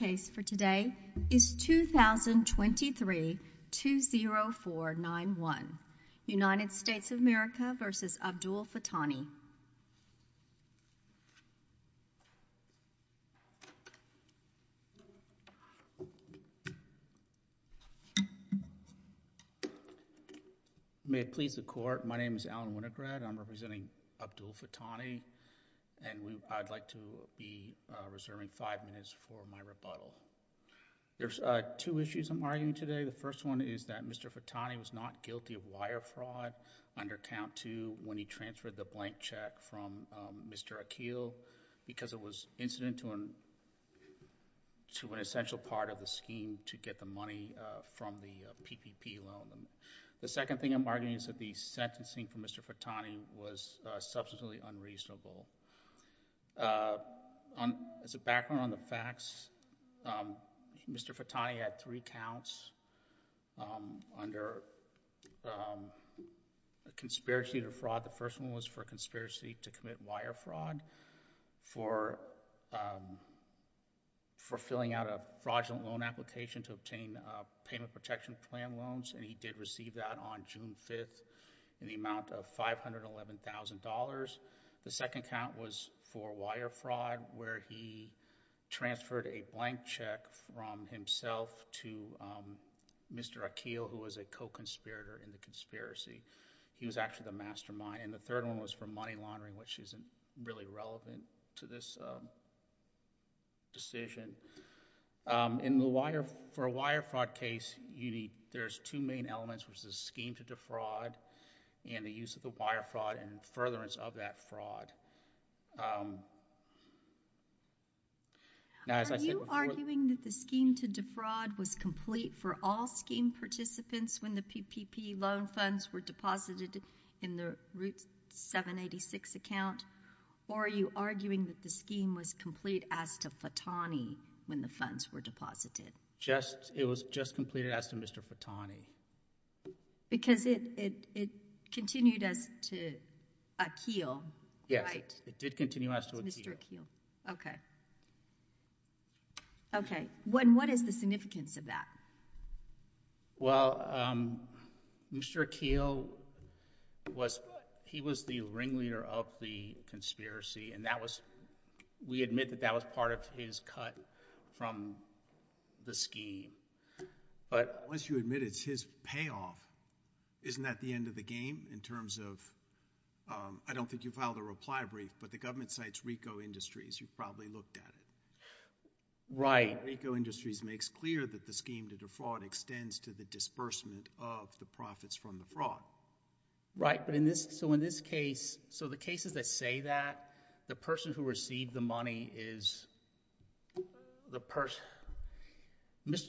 The case for today is 2023-20491, United States of America v. Abdul-Fatani. May it please the Court, my name is Alan Winograd, I'm representing Abdul-Fatani, and I'd like to be reserving five minutes for my rebuttal. There's two issues I'm arguing today, the first one is that Mr. Fatani was not guilty of wire fraud under count two when he transferred the blank check from Mr. Akil because it was incident to an essential part of the scheme to get the money from the PPP loan. The second thing I'm arguing is that the sentencing for Mr. Fatani was substantially unreasonable. As a background on the facts, Mr. Fatani had three counts under conspiracy to fraud. The first one was for conspiracy to commit wire fraud for filling out a fraudulent loan application to obtain payment protection plan loans, and he did receive that on June 5th in the amount of $511,000. The second count was for wire fraud where he transferred a blank check from himself to Mr. Akil, who was a co-conspirator in the conspiracy, he was actually the mastermind. And the third one was for money laundering, which isn't really relevant to this decision. For a wire fraud case, there's two main elements, which is the scheme to defraud and the use of the wire fraud and furtherance of that fraud. Are you arguing that the scheme to defraud was complete for all scheme participants when the PPP loan funds were deposited in the Route 786 account, or are you arguing that the scheme was complete as to Fatani when the funds were deposited? It was just completed as to Mr. Fatani. Because it continued as to Akil, right? Yes, it did continue as to Akil. Okay. Okay. And what is the significance of that? Well, um, Mr. Akil was, he was the ringleader of the conspiracy, and that was, we admit that that was part of his cut from the scheme. But... Unless you admit it's his payoff, isn't that the end of the game in terms of, um, I don't think you filed a reply brief, but the government cites Ricoh Industries, you probably looked at it. Right. And Ricoh Industries makes clear that the scheme to defraud extends to the disbursement of the profits from the fraud. Right. But in this, so in this case, so the cases that say that, the person who received the money is the person,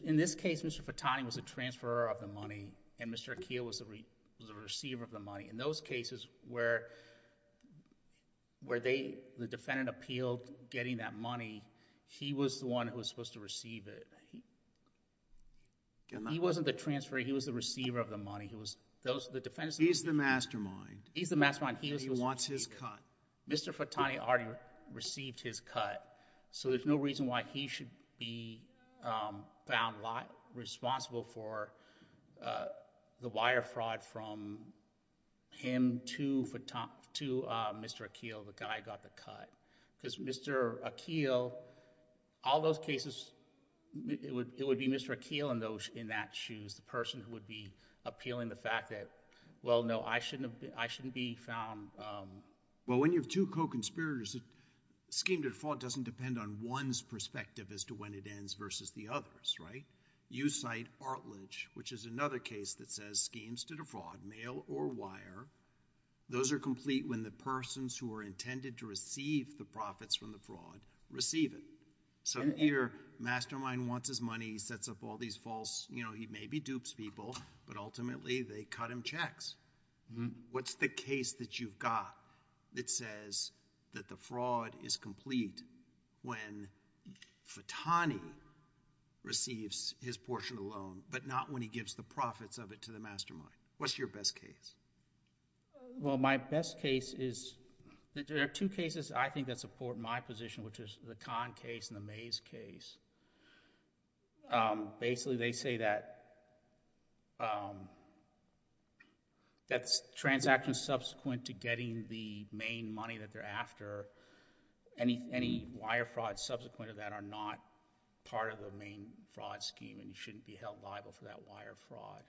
in this case, Mr. Fatani was the transfer of the money, and Mr. Akil was the receiver of the money. In those cases where, where they, the defendant appealed getting that money, he was the one who was supposed to receive it. He wasn't the transfer, he was the receiver of the money, he was, those, the defendant... He's the mastermind. He's the mastermind. He wants his cut. Mr. Fatani already received his cut, so there's no reason why he should be found liable, responsible for the wire fraud from him to Mr. Akil, the guy who got the cut. Because Mr. Akil, all those cases, it would, it would be Mr. Akil in those, in that shoes, the person who would be appealing the fact that, well, no, I shouldn't, I shouldn't be found... Well, when you have two co-conspirators, the scheme to defraud doesn't depend on one's perspective as to when it ends versus the other's, right? You cite Artledge, which is another case that says schemes to defraud, mail or wire, those are complete when the persons who are intended to receive the profits from the fraud receive it. So your mastermind wants his money, he sets up all these false, you know, he maybe dupes people, but ultimately they cut him checks. What's the case that you've got that says that the fraud is complete when Fatani receives his portion of the loan, but not when he gives the profits of it to the mastermind? What's your best case? Well, my best case is... there are two cases I think that support my position, which is the Kahn case and the Mays case. Basically, they say that, that transaction subsequent to getting the main money that they're after, any wire fraud subsequent to that are not part of the main fraud scheme and shouldn't be held liable for that wire fraud.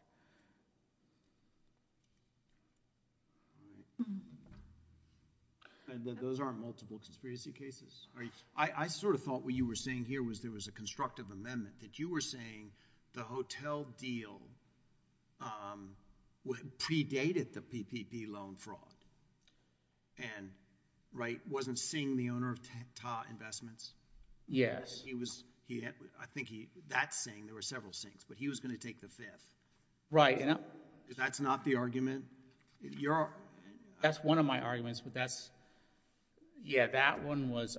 Those aren't multiple conspiracy cases? I sort of thought what you were saying here was there was a constructive amendment, that you were saying the hotel deal predated the PPP loan fraud and Wright wasn't seeing the owner of Tah Investments? Yes. I think that saying, there were several sayings, but he was going to take the fifth. Right. That's not the argument? That's one of my arguments, but that's... yeah, that one was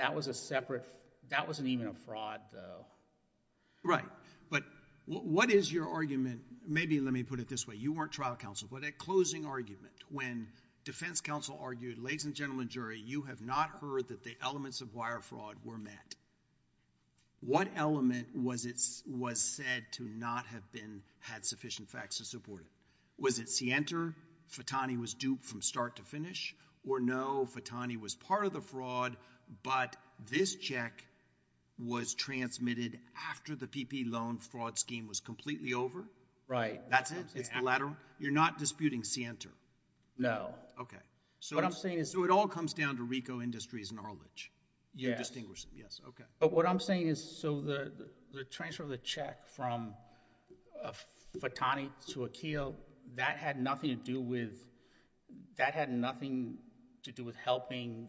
a separate... that wasn't even a fraud though. Right, but what is your argument... maybe let me put it this way. You weren't trial counsel, but a closing argument when defense counsel argued, ladies and gentlemen of the jury, you have not heard that the elements of wire fraud were met. What element was said to not have been, had sufficient facts to support it? Was it Sienter, Fatani was duped from start to finish, or no, Fatani was part of the fraud, but this check was transmitted after the PPP loan fraud scheme was completely over? Right. That's it? It's the latter? You're not disputing Sienter? No. Okay. What I'm saying is... So it all comes down to RICO Industries' knowledge? Yes. You're distinguishing? Yes. Okay. But what I'm saying is, so the transfer of the check from Fatani to Akeel, that had nothing to do with, that had nothing to do with helping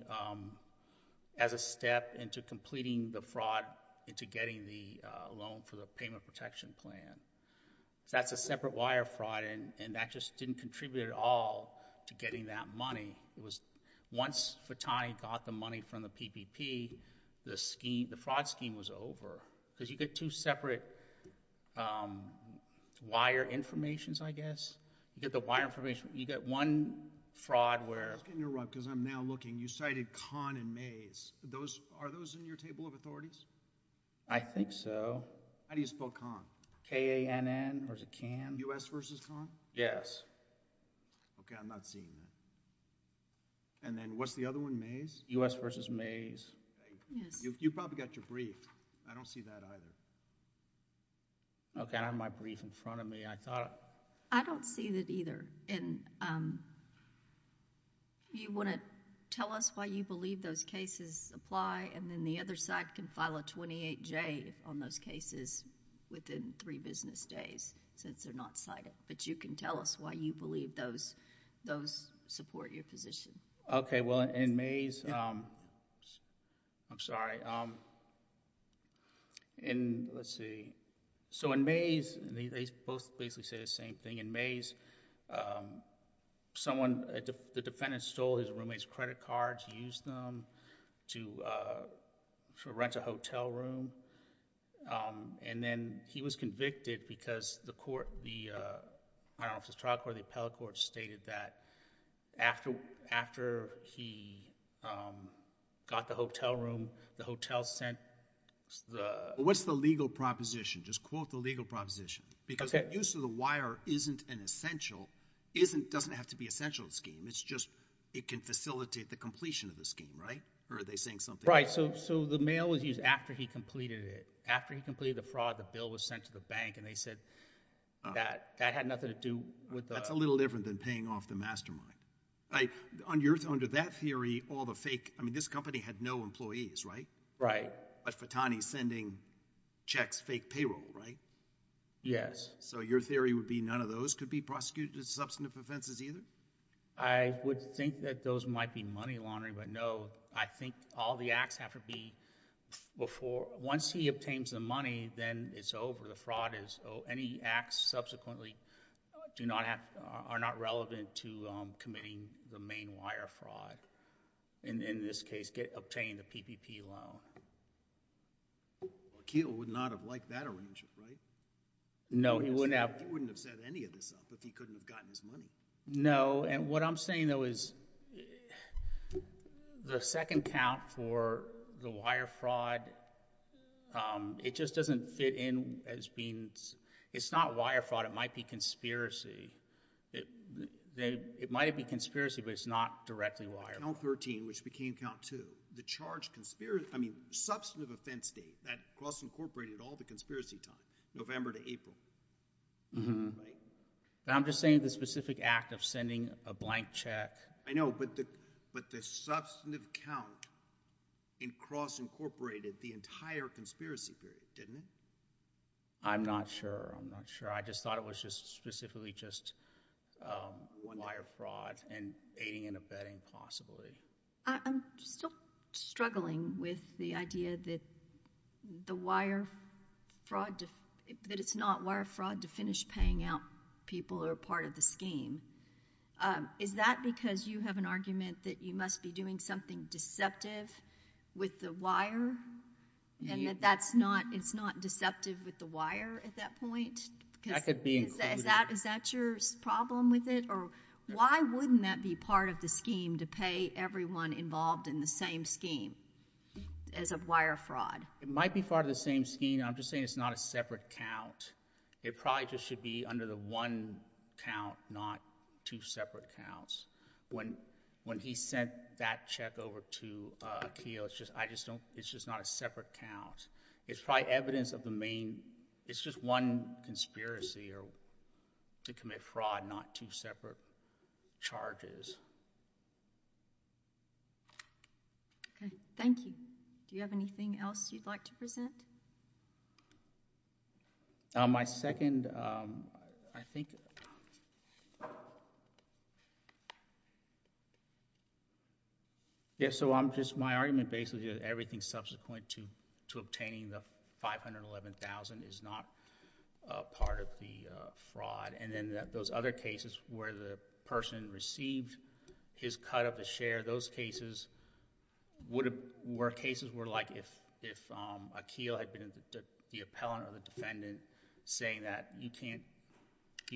as a step into completing the fraud, into getting the loan for the payment protection plan. That's a separate wire fraud, and that just didn't contribute at all to getting that money. It was, once Fatani got the money from the PPP, the scheme, the fraud scheme was over. Because you get two separate wire informations, I guess. You get the wire information, you get one fraud where... Just to interrupt, because I'm now looking, you cited Kahn and Mays. Are those in your table of authorities? I think so. How do you spell Kahn? K-A-N-N, or is it Kahn? U.S. versus Kahn? Yes. Okay. I'm not seeing that. Then what's the other one, Mays? U.S. versus Mays. Yes. You probably got your brief. I don't see that either. Okay. I have my brief in front of me. I thought... I don't see that either. You want to tell us why you believe those cases apply, and then the other side can file a 28-J on those cases within three business days, since they're not cited. But you can tell us why you believe those support your position. Okay. Well, in Mays... I'm sorry. Let's see. In Mays, they both basically say the same thing. In Mays, the defendant stole his roommate's credit cards, used them to rent a hotel room, and then he was convicted because the trial court, the appellate court, stated that after he got the hotel room, the hotel sent the... What's the legal proposition? Just quote the legal proposition. Okay. So that use of the wire isn't an essential... doesn't have to be an essential scheme. It's just it can facilitate the completion of the scheme, right? Or are they saying something else? Right. So the mail was used after he completed it. After he completed the fraud, the bill was sent to the bank, and they said that had nothing to do with the... That's a little different than paying off the mastermind. Under that theory, all the fake... I mean, this company had no employees, right? Right. But Fatani's sending checks, fake payroll, right? Yes. So your theory would be none of those could be prosecuted as substantive offenses either? I would think that those might be money laundering, but no. I think all the acts have to be before... once he obtains the money, then it's over. The fraud is... any acts subsequently do not have... are not relevant to committing the main wire fraud, and in this case, obtain the PPP loan. Well, Keel would not have liked that arrangement, right? No. He wouldn't have... He wouldn't have set any of this up if he couldn't have gotten his money. No, and what I'm saying, though, is the second count for the wire fraud, it just doesn't fit in as being... it's not wire fraud. It might be conspiracy. It might be conspiracy, but it's not directly wire fraud. The count 13, which became count two, the charge... I mean, substantive offense date, that cross-incorporated all the conspiracy time, November to April, right? I'm just saying the specific act of sending a blank check... I know, but the substantive count cross-incorporated the entire conspiracy period, didn't it? I'm not sure. I'm not sure. It's just specifically just wire fraud and aiding and abetting, possibly. I'm still struggling with the idea that the wire fraud... that it's not wire fraud to finish paying out people who are part of the scheme. Is that because you have an argument that you must be doing something deceptive with the wire, and that it's not deceptive with the wire at that point? That could be included. Is that your problem with it? Or, why wouldn't that be part of the scheme to pay everyone involved in the same scheme as of wire fraud? It might be part of the same scheme. I'm just saying it's not a separate count. It probably just should be under the one count, not two separate counts. When he sent that check over to Akio, it's just not a separate count. It's probably evidence of the main... it's just one conspiracy to commit fraud, not two separate charges. Okay. Thank you. Do you have anything else you'd like to present? My second... I think... My argument basically is that everything subsequent to obtaining the $511,000 is not part of the fraud. Then, those other cases where the person received his cut of the share, those cases were like if Akio had been the appellant or the defendant saying that, you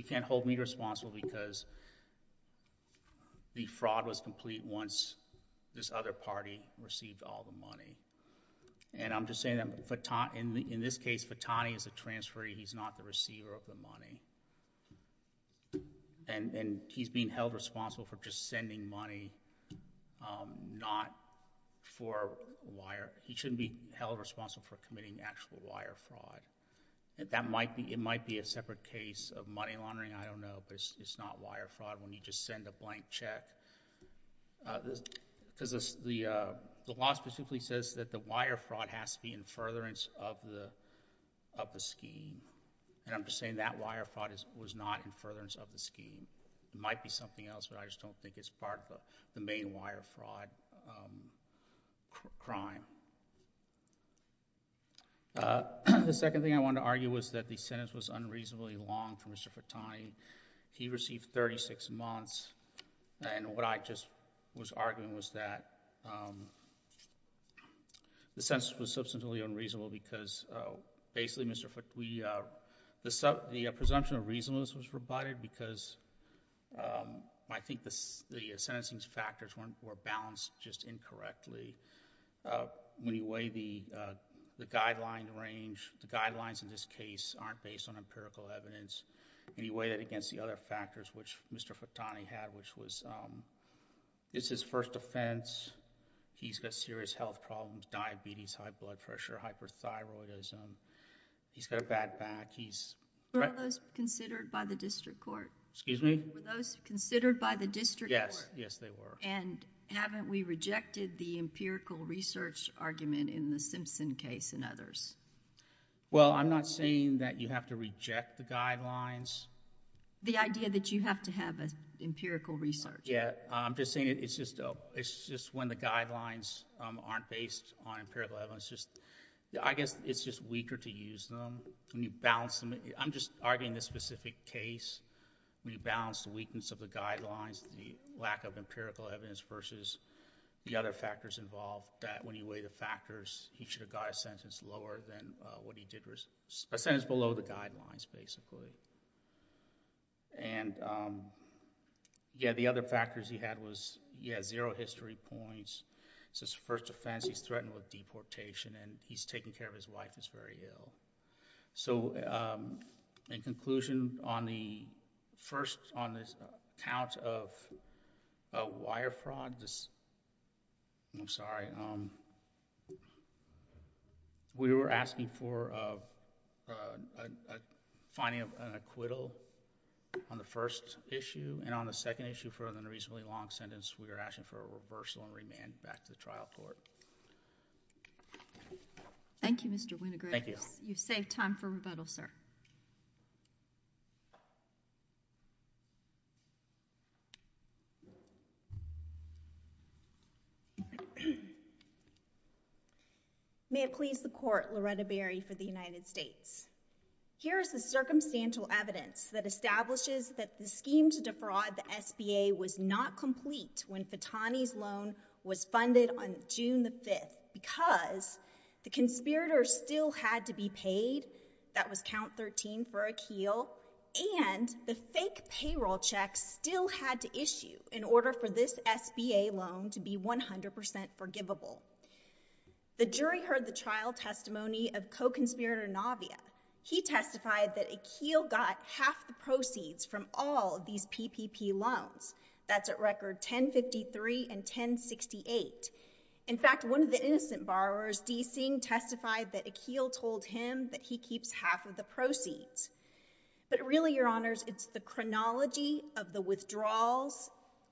can't hold me responsible because the fraud was complete once this other party received all the money. I'm just saying that in this case, Fatani is a transferee. He's not the receiver of the money. He's being held responsible for just sending money, not for wire... He shouldn't be held responsible for committing actual wire fraud. It might be a separate case of money laundering. I don't know, but it's not wire fraud when you just send a blank check. The law specifically says that the wire fraud has to be in furtherance of the scheme. I'm just saying that wire fraud was not in furtherance of the scheme. It might be something else, but I just don't think it's part of the main wire fraud crime. The second thing I wanted to argue was that the sentence was unreasonably long for Mr. Fatani. He received 36 months, and what I just was arguing was that the sentence was substantially unreasonable because basically, the presumption of reasonableness was provided because I think the sentencing factors were balanced just incorrectly. When you weigh the guideline range, the guidelines in this case aren't based on empirical evidence. When you weigh it against the other factors which Mr. Fatani had, which was... It's his first offense. He's got serious health problems, diabetes, high blood pressure, hyperthyroidism. He's got a bad back. He's... Were those considered by the district court? Excuse me? Were those considered by the district court? Yes, yes they were. Haven't we rejected the empirical research argument in the Simpson case and others? Well, I'm not saying that you have to reject the guidelines. The idea that you have to have an empirical research. Yeah. I'm just saying it's just when the guidelines aren't based on empirical evidence. I guess it's just weaker to use them. When you balance them... I'm just arguing this specific case. When you balance the weakness of the guidelines, the lack of empirical evidence versus the other factors involved, that when you weigh the factors, he should have got a sentence lower than what he did... A sentence below the guidelines basically. Yeah, the other factors he had was... He has zero history points. It's his first offense. He's threatened with deportation and he's taking care of his wife who's very ill. In conclusion, on the first account of wire fraud, I'm sorry, we were asking for finding an acquittal on the first issue. On the second issue for an unreasonably long sentence, we were asking for a reversal and remand back to the trial court. Thank you, Mr. Winogradis. Thank you. You've saved time for rebuttal, sir. May it please the Court, Loretta Berry for the United States. Here is the circumstantial evidence that establishes that the scheme to defraud the SBA was not complete... was funded on June the 5th because the conspirators still had to be paid. That was count 13 for Akeel and the fake payroll checks still had to issue in order for this SBA loan to be 100% forgivable. The jury heard the trial testimony of co-conspirator Navia. He testified that Akeel got half the proceeds from all these PPP loans. That's at record 1053 and 1068. In fact, one of the innocent borrowers, D. Singh, testified that Akeel told him that he keeps half of the proceeds. But really, Your Honors, it's the chronology of the withdrawals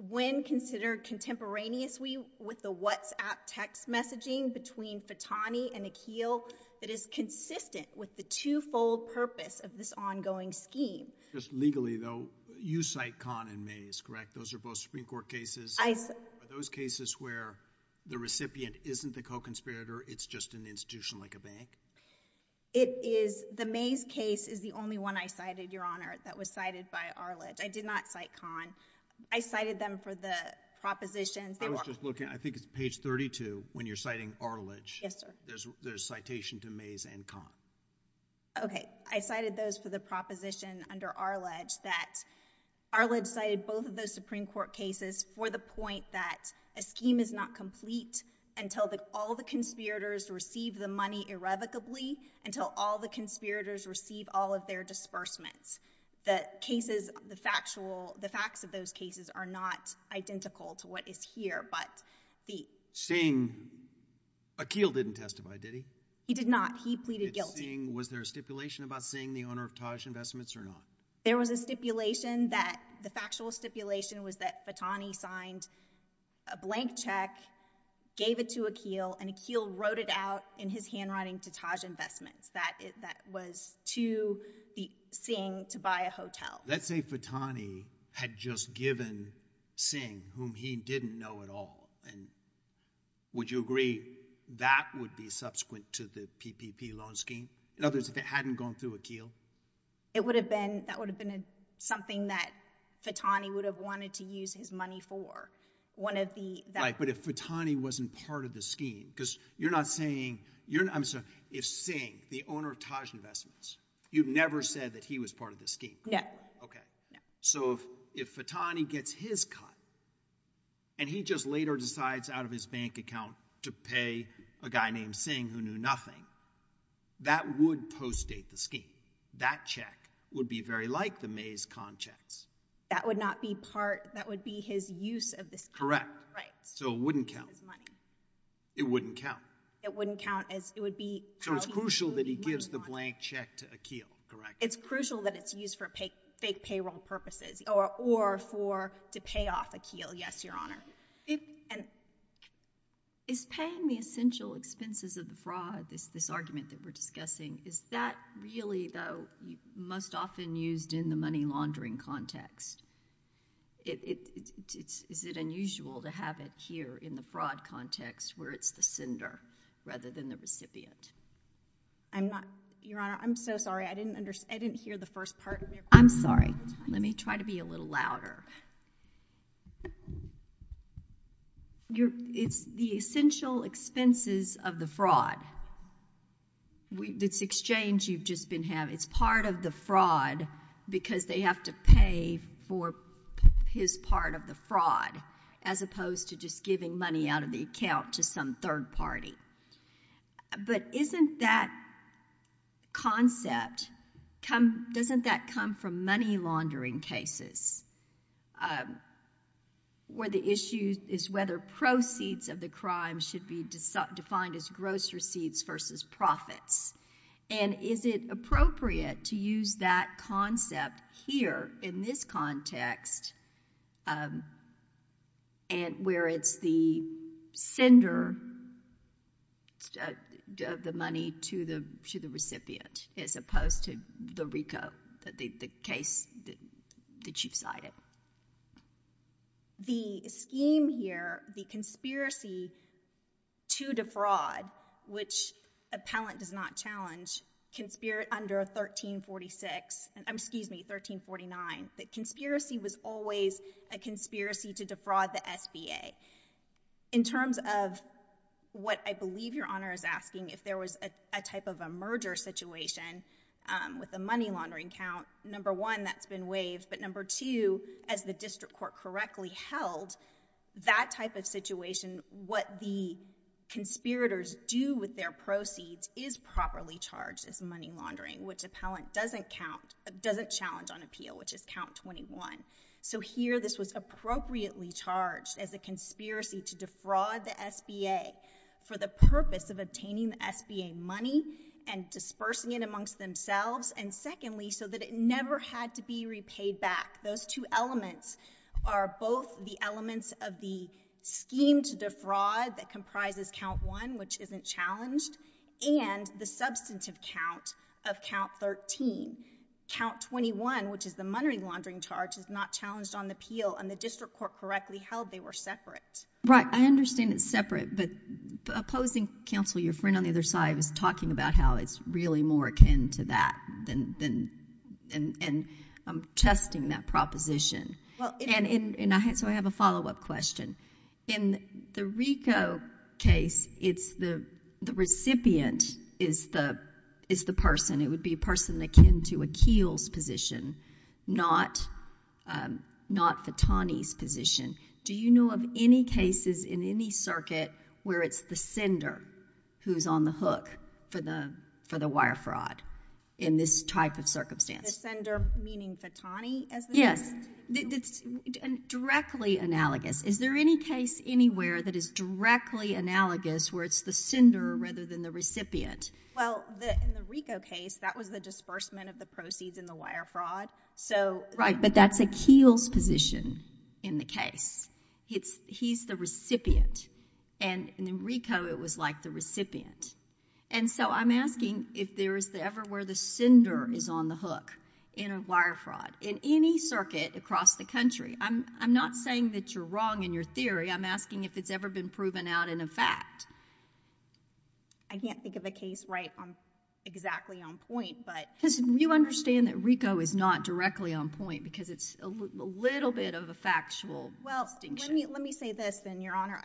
when considered contemporaneous... with the WhatsApp text messaging between Fatani and Akeel that is consistent with the two-fold purpose of this ongoing scheme. Just legally, though, you cite Kahn and Mays, correct? Those are both Supreme Court cases. I... Are those cases where the recipient isn't the co-conspirator? It's just an institution like a bank? It is. The Mays case is the only one I cited, Your Honor, that was cited by Arledge. I did not cite Kahn. I cited them for the propositions. I was just looking. I think it's page 32 when you're citing Arledge. Yes, sir. There's citation to Mays and Kahn. Okay. I cited those for the proposition under Arledge that Arledge cited both of those Supreme Court cases for the point that a scheme is not complete until all the conspirators receive the money irrevocably, until all the conspirators receive all of their disbursements. The cases, the factual... the facts of those cases are not identical to what is here, but the... Singh... Akeel didn't testify, did he? He did not. He pleaded guilty. Was there a stipulation about Singh, the owner of Taj Investments, or not? There was a stipulation that... the factual stipulation was that Fatani signed a blank check, gave it to Akeel, and Akeel wrote it out in his handwriting to Taj Investments. That was to Singh to buy a hotel. Let's say Fatani had just given Singh, whom he didn't know at all, and would you agree that would be subsequent to the PPP loan scheme? In other words, if it hadn't gone through Akeel? It would have been... that would have been something that Fatani would have wanted to use his money for. One of the... Right, but if Fatani wasn't part of the scheme, because you're not saying... I'm sorry. If Singh, the owner of Taj Investments, you've never said that he was part of the scheme. No. Okay. So if Fatani gets his cut, and he just later decides out of his bank account to pay a guy named Singh who knew nothing, that would post-date the scheme. That check would be very like the Mays con checks. That would not be part... that would be his use of this... Correct. Right. So it wouldn't count. It wouldn't count. It wouldn't count as... it would be... So it's crucial that he gives the blank check to Akeel, correct? It's crucial that it's used for fake payroll purposes or for... to pay off Akeel. Yes, Your Honor. Is paying the essential expenses of the fraud, this argument that we're discussing, is that really, though, most often used in the money laundering context? Is it unusual to have it here in the fraud context where it's the sender rather than the recipient? I'm not... Your Honor, I'm so sorry. I didn't hear the first part of your question. I'm sorry. Let me try to be a little louder. It's the essential expenses of the fraud. This exchange you've just been having, it's part of the fraud because they have to pay for his part of the fraud as opposed to just giving money out of the account to some third party. But isn't that concept... doesn't that come from money laundering cases where the issue is whether proceeds of the crime should be defined as gross receipts versus profits? And is it appropriate to use that concept here in this context where it's the sender of the money to the recipient as opposed to the RICO, the case that you've cited? The scheme here, the conspiracy to defraud, which appellant does not challenge, under 1346... excuse me, 1349, the conspiracy was always a conspiracy to defraud the SBA. In terms of what I believe Your Honor is asking, if there was a type of a merger situation with a money laundering count, number one, that's been waived. But number two, as the district court correctly held, that type of situation, what the conspirators do with their proceeds is properly charged as money laundering, which appellant doesn't challenge on appeal, which is count 21. So here this was appropriately charged as a conspiracy to defraud the SBA for the purpose of obtaining the SBA money and dispersing it amongst themselves. And secondly, so that it never had to be repaid back. Those two elements are both the elements of the scheme to defraud that comprises count one, which isn't challenged, and the substantive count of count 13. Count 21, which is the money laundering charge, is not challenged on appeal. And the district court correctly held they were separate. Right. I understand it's separate. But opposing counsel, your friend on the other side, was talking about how it's really more akin to that and I'm testing that proposition. And so I have a follow-up question. In the RICO case, it's the recipient is the person. It would be a person akin to Akil's position, not Fatani's position. Do you know of any cases in any circuit where it's the sender who's on the hook for the wire fraud in this type of circumstance? The sender meaning Fatani? Yes. Directly analogous. Is there any case anywhere that is directly analogous where it's the sender rather than the recipient? Well, in the RICO case, that was the disbursement of the proceeds in the wire fraud. Right, but that's Akil's position in the case. He's the recipient. And in RICO, it was like the recipient. And so I'm asking if there is ever where the sender is on the hook in a wire fraud in any circuit across the country. I'm not saying that you're wrong in your theory. I'm asking if it's ever been proven out in a fact. I can't think of a case right on exactly on point. Because you understand that RICO is not directly on point because it's a little bit of a factual distinction. Well, let me say this then, Your Honor.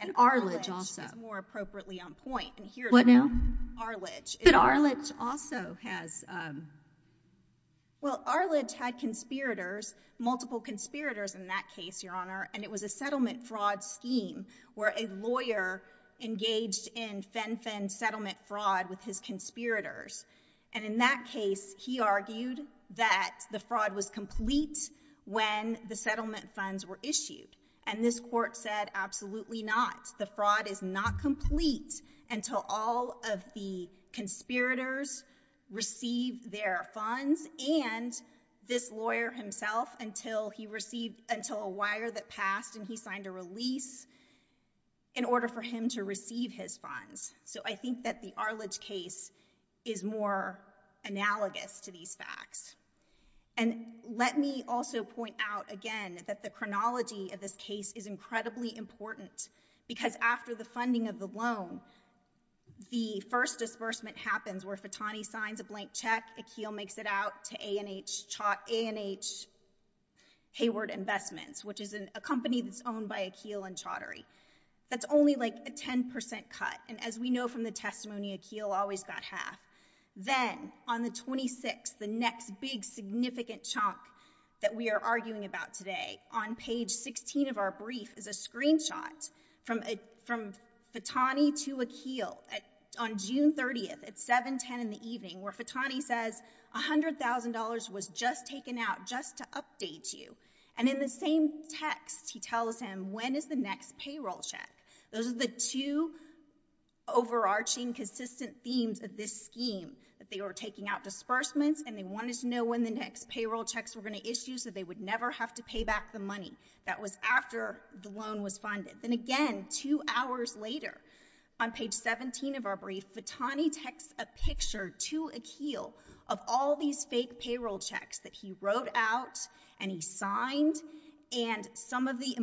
And Arledge also. I think Arledge is more appropriately on point. What now? Arledge. But Arledge also has... Well, Arledge had conspirators, multiple conspirators in that case, Your Honor, and it was a settlement fraud scheme where a lawyer engaged in fen-fen settlement fraud with his conspirators. And in that case, he argued that the fraud was complete when the settlement funds were issued. And this court said, absolutely not. The fraud is not complete until all of the conspirators receive their funds and this lawyer himself until he received, until a wire that passed and he signed a release in order for him to receive his funds. So I think that the Arledge case is more analogous to these facts. And let me also point out again that the chronology of this case is incredibly important because after the funding of the loan, the first disbursement happens where Fatani signs a blank check. Akeel makes it out to A&H Hayward Investments, which is a company that's owned by Akeel and Chaudhary. That's only like a 10 percent cut. And as we know from the testimony, Akeel always got half. Then, on the 26th, the next big significant chunk that we are arguing about today, on page 16 of our brief is a screenshot from Fatani to Akeel on June 30th at 710 in the evening where Fatani says, $100,000 was just taken out just to update you. And in the same text, he tells him, when is the next payroll check? Those are the two overarching consistent themes of this scheme, that they were taking out disbursements and they wanted to know when the next payroll checks were going to issue so they would never have to pay back the money. That was after the loan was funded. Then again, two hours later, on page 17 of our brief, Fatani texts a picture to Akeel of all these fake payroll checks that he wrote out and he signed and some of the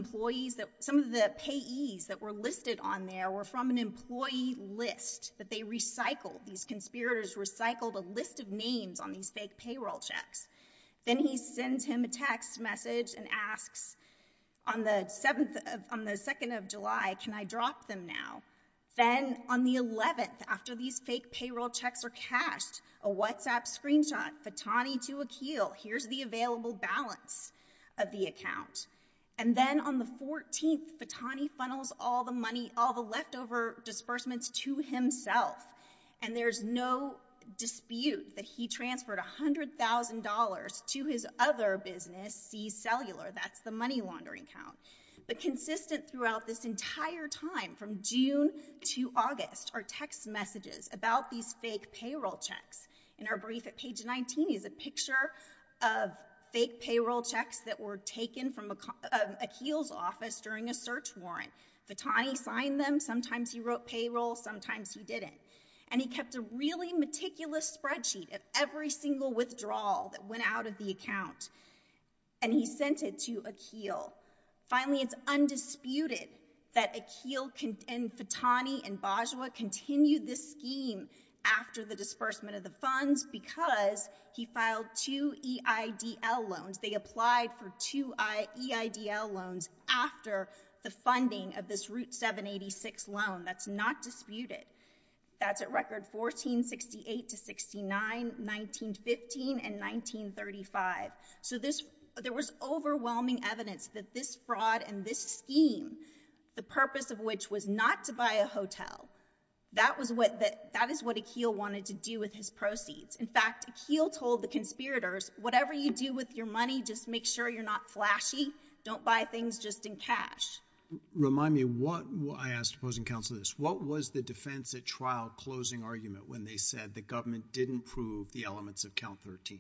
payees that were listed on there were from an employee list that they recycled. These conspirators recycled a list of names on these fake payroll checks. Then he sends him a text message and asks, on the 2nd of July, can I drop them now? Then, on the 11th, after these fake payroll checks are cashed, a WhatsApp screenshot, Fatani to Akeel, here's the available balance of the account. And then on the 14th, Fatani funnels all the money, all the leftover disbursements to himself. And there's no dispute that he transferred $100,000 to his other business, C Cellular. That's the money laundering account. But consistent throughout this entire time, from June to August, are text messages about these fake payroll checks. In our brief at page 19 is a picture of fake payroll checks that were taken from Akeel's office during a search warrant. Fatani signed them, sometimes he wrote payroll, sometimes he didn't. And he kept a really meticulous spreadsheet of every single withdrawal that went out of the account. And he sent it to Akeel. Finally, it's undisputed that Akeel and Fatani and Bajwa continued this scheme after the disbursement of the funds because he filed two EIDL loans. They applied for two EIDL loans after the funding of this Route 786 loan. That's not disputed. That's at record 1468-69, 1915, and 1935. So there was overwhelming evidence that this fraud and this scheme, the purpose of which was not to buy a hotel, that is what Akeel wanted to do with his proceeds. In fact, Akeel told the conspirators, whatever you do with your money, just make sure you're not flashy. Don't buy things just in cash. Remind me, I ask opposing counsel this, what was the defense at trial closing argument when they said the government didn't prove the elements of Count 13?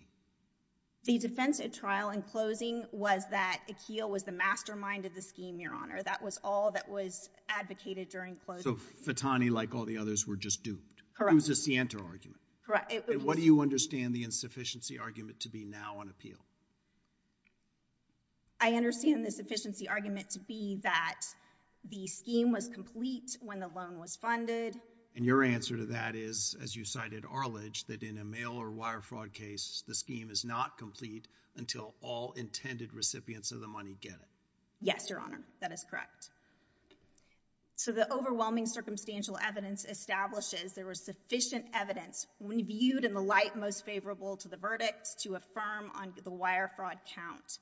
The defense at trial in closing was that Akeel was the mastermind of the scheme, Your Honor. That was all that was advocated during closing. So Fatani, like all the others, were just duped. Correct. It was a scienter argument. Correct. And what do you understand the insufficiency argument to be now on appeal? I understand the sufficiency argument to be that the scheme was complete when the loan was funded. And your answer to that is, as you cited Arledge, that in a mail or wire fraud case, the scheme is not complete until all intended recipients of the money get it. Yes, Your Honor. That is correct. So the overwhelming circumstantial evidence establishes there was sufficient evidence when viewed in the light most favorable to the verdict to affirm on the wire fraud count.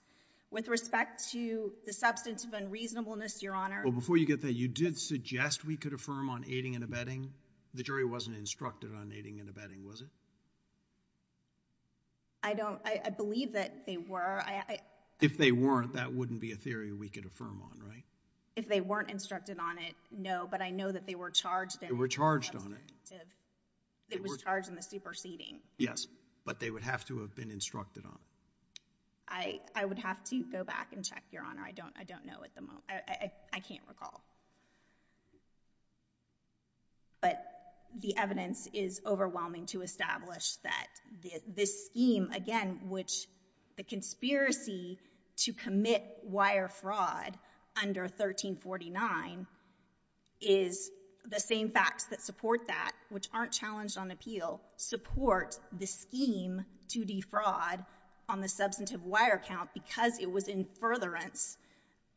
With respect to the substance of unreasonableness, Your Honor. Before you get there, you did suggest we could affirm on aiding and abetting. The jury wasn't instructed on aiding and abetting, was it? I believe that they were. If they weren't, that wouldn't be a theory we could affirm on, right? If they weren't instructed on it, no. But I know that they were charged. They were charged on it. It was charged in the superseding. Yes. But they would have to have been instructed on it. I would have to go back and check, Your Honor. I don't know at the moment. I can't recall. But the evidence is overwhelming to establish that this scheme, again, which the conspiracy to commit wire fraud under 1349 is the same facts that support that, which aren't challenged on appeal, support the scheme to defraud on the substantive wire count because it was in furtherance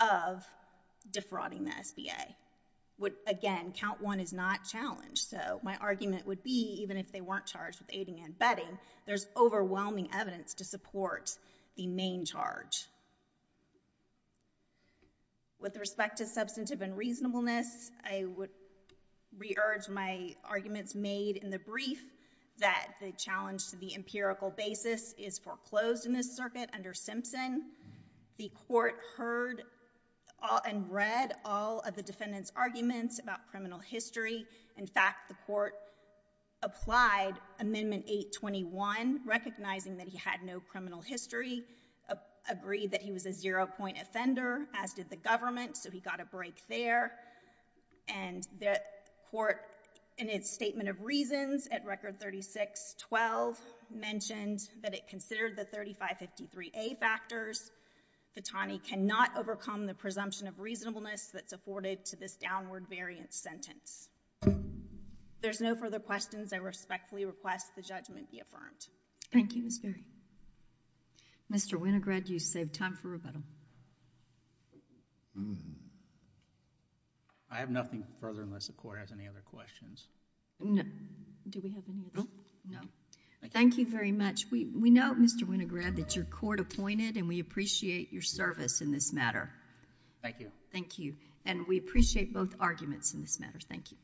of defrauding the SBA. Again, count one is not challenged. So my argument would be, even if they weren't charged with aiding and abetting, there's overwhelming evidence to support the main charge. With respect to substantive unreasonableness, I would re-urge my arguments made in the brief that the challenge to the empirical basis is foreclosed in this circuit under Simpson. The court heard and read all of the defendant's arguments about criminal history. In fact, the court applied Amendment 821, recognizing that he had no criminal history, agreed that he was a zero-point offender, as did the government. So he got a break there. And the court, in its statement of reasons at Record 3612, mentioned that it considered the 3553A factors. Fittani cannot overcome the presumption of reasonableness that's afforded to this downward variant sentence. If there's no further questions, I respectfully request the judgment be affirmed. Thank you, Ms. Ferry. Mr. Winograd, you saved time for rebuttal. I have nothing further unless the court has any other questions. Do we have any? No. Thank you very much. We note, Mr. Winograd, that your court appointed, and we appreciate your service in this matter. Thank you. Thank you. And we appreciate both arguments in this matter. Thank you.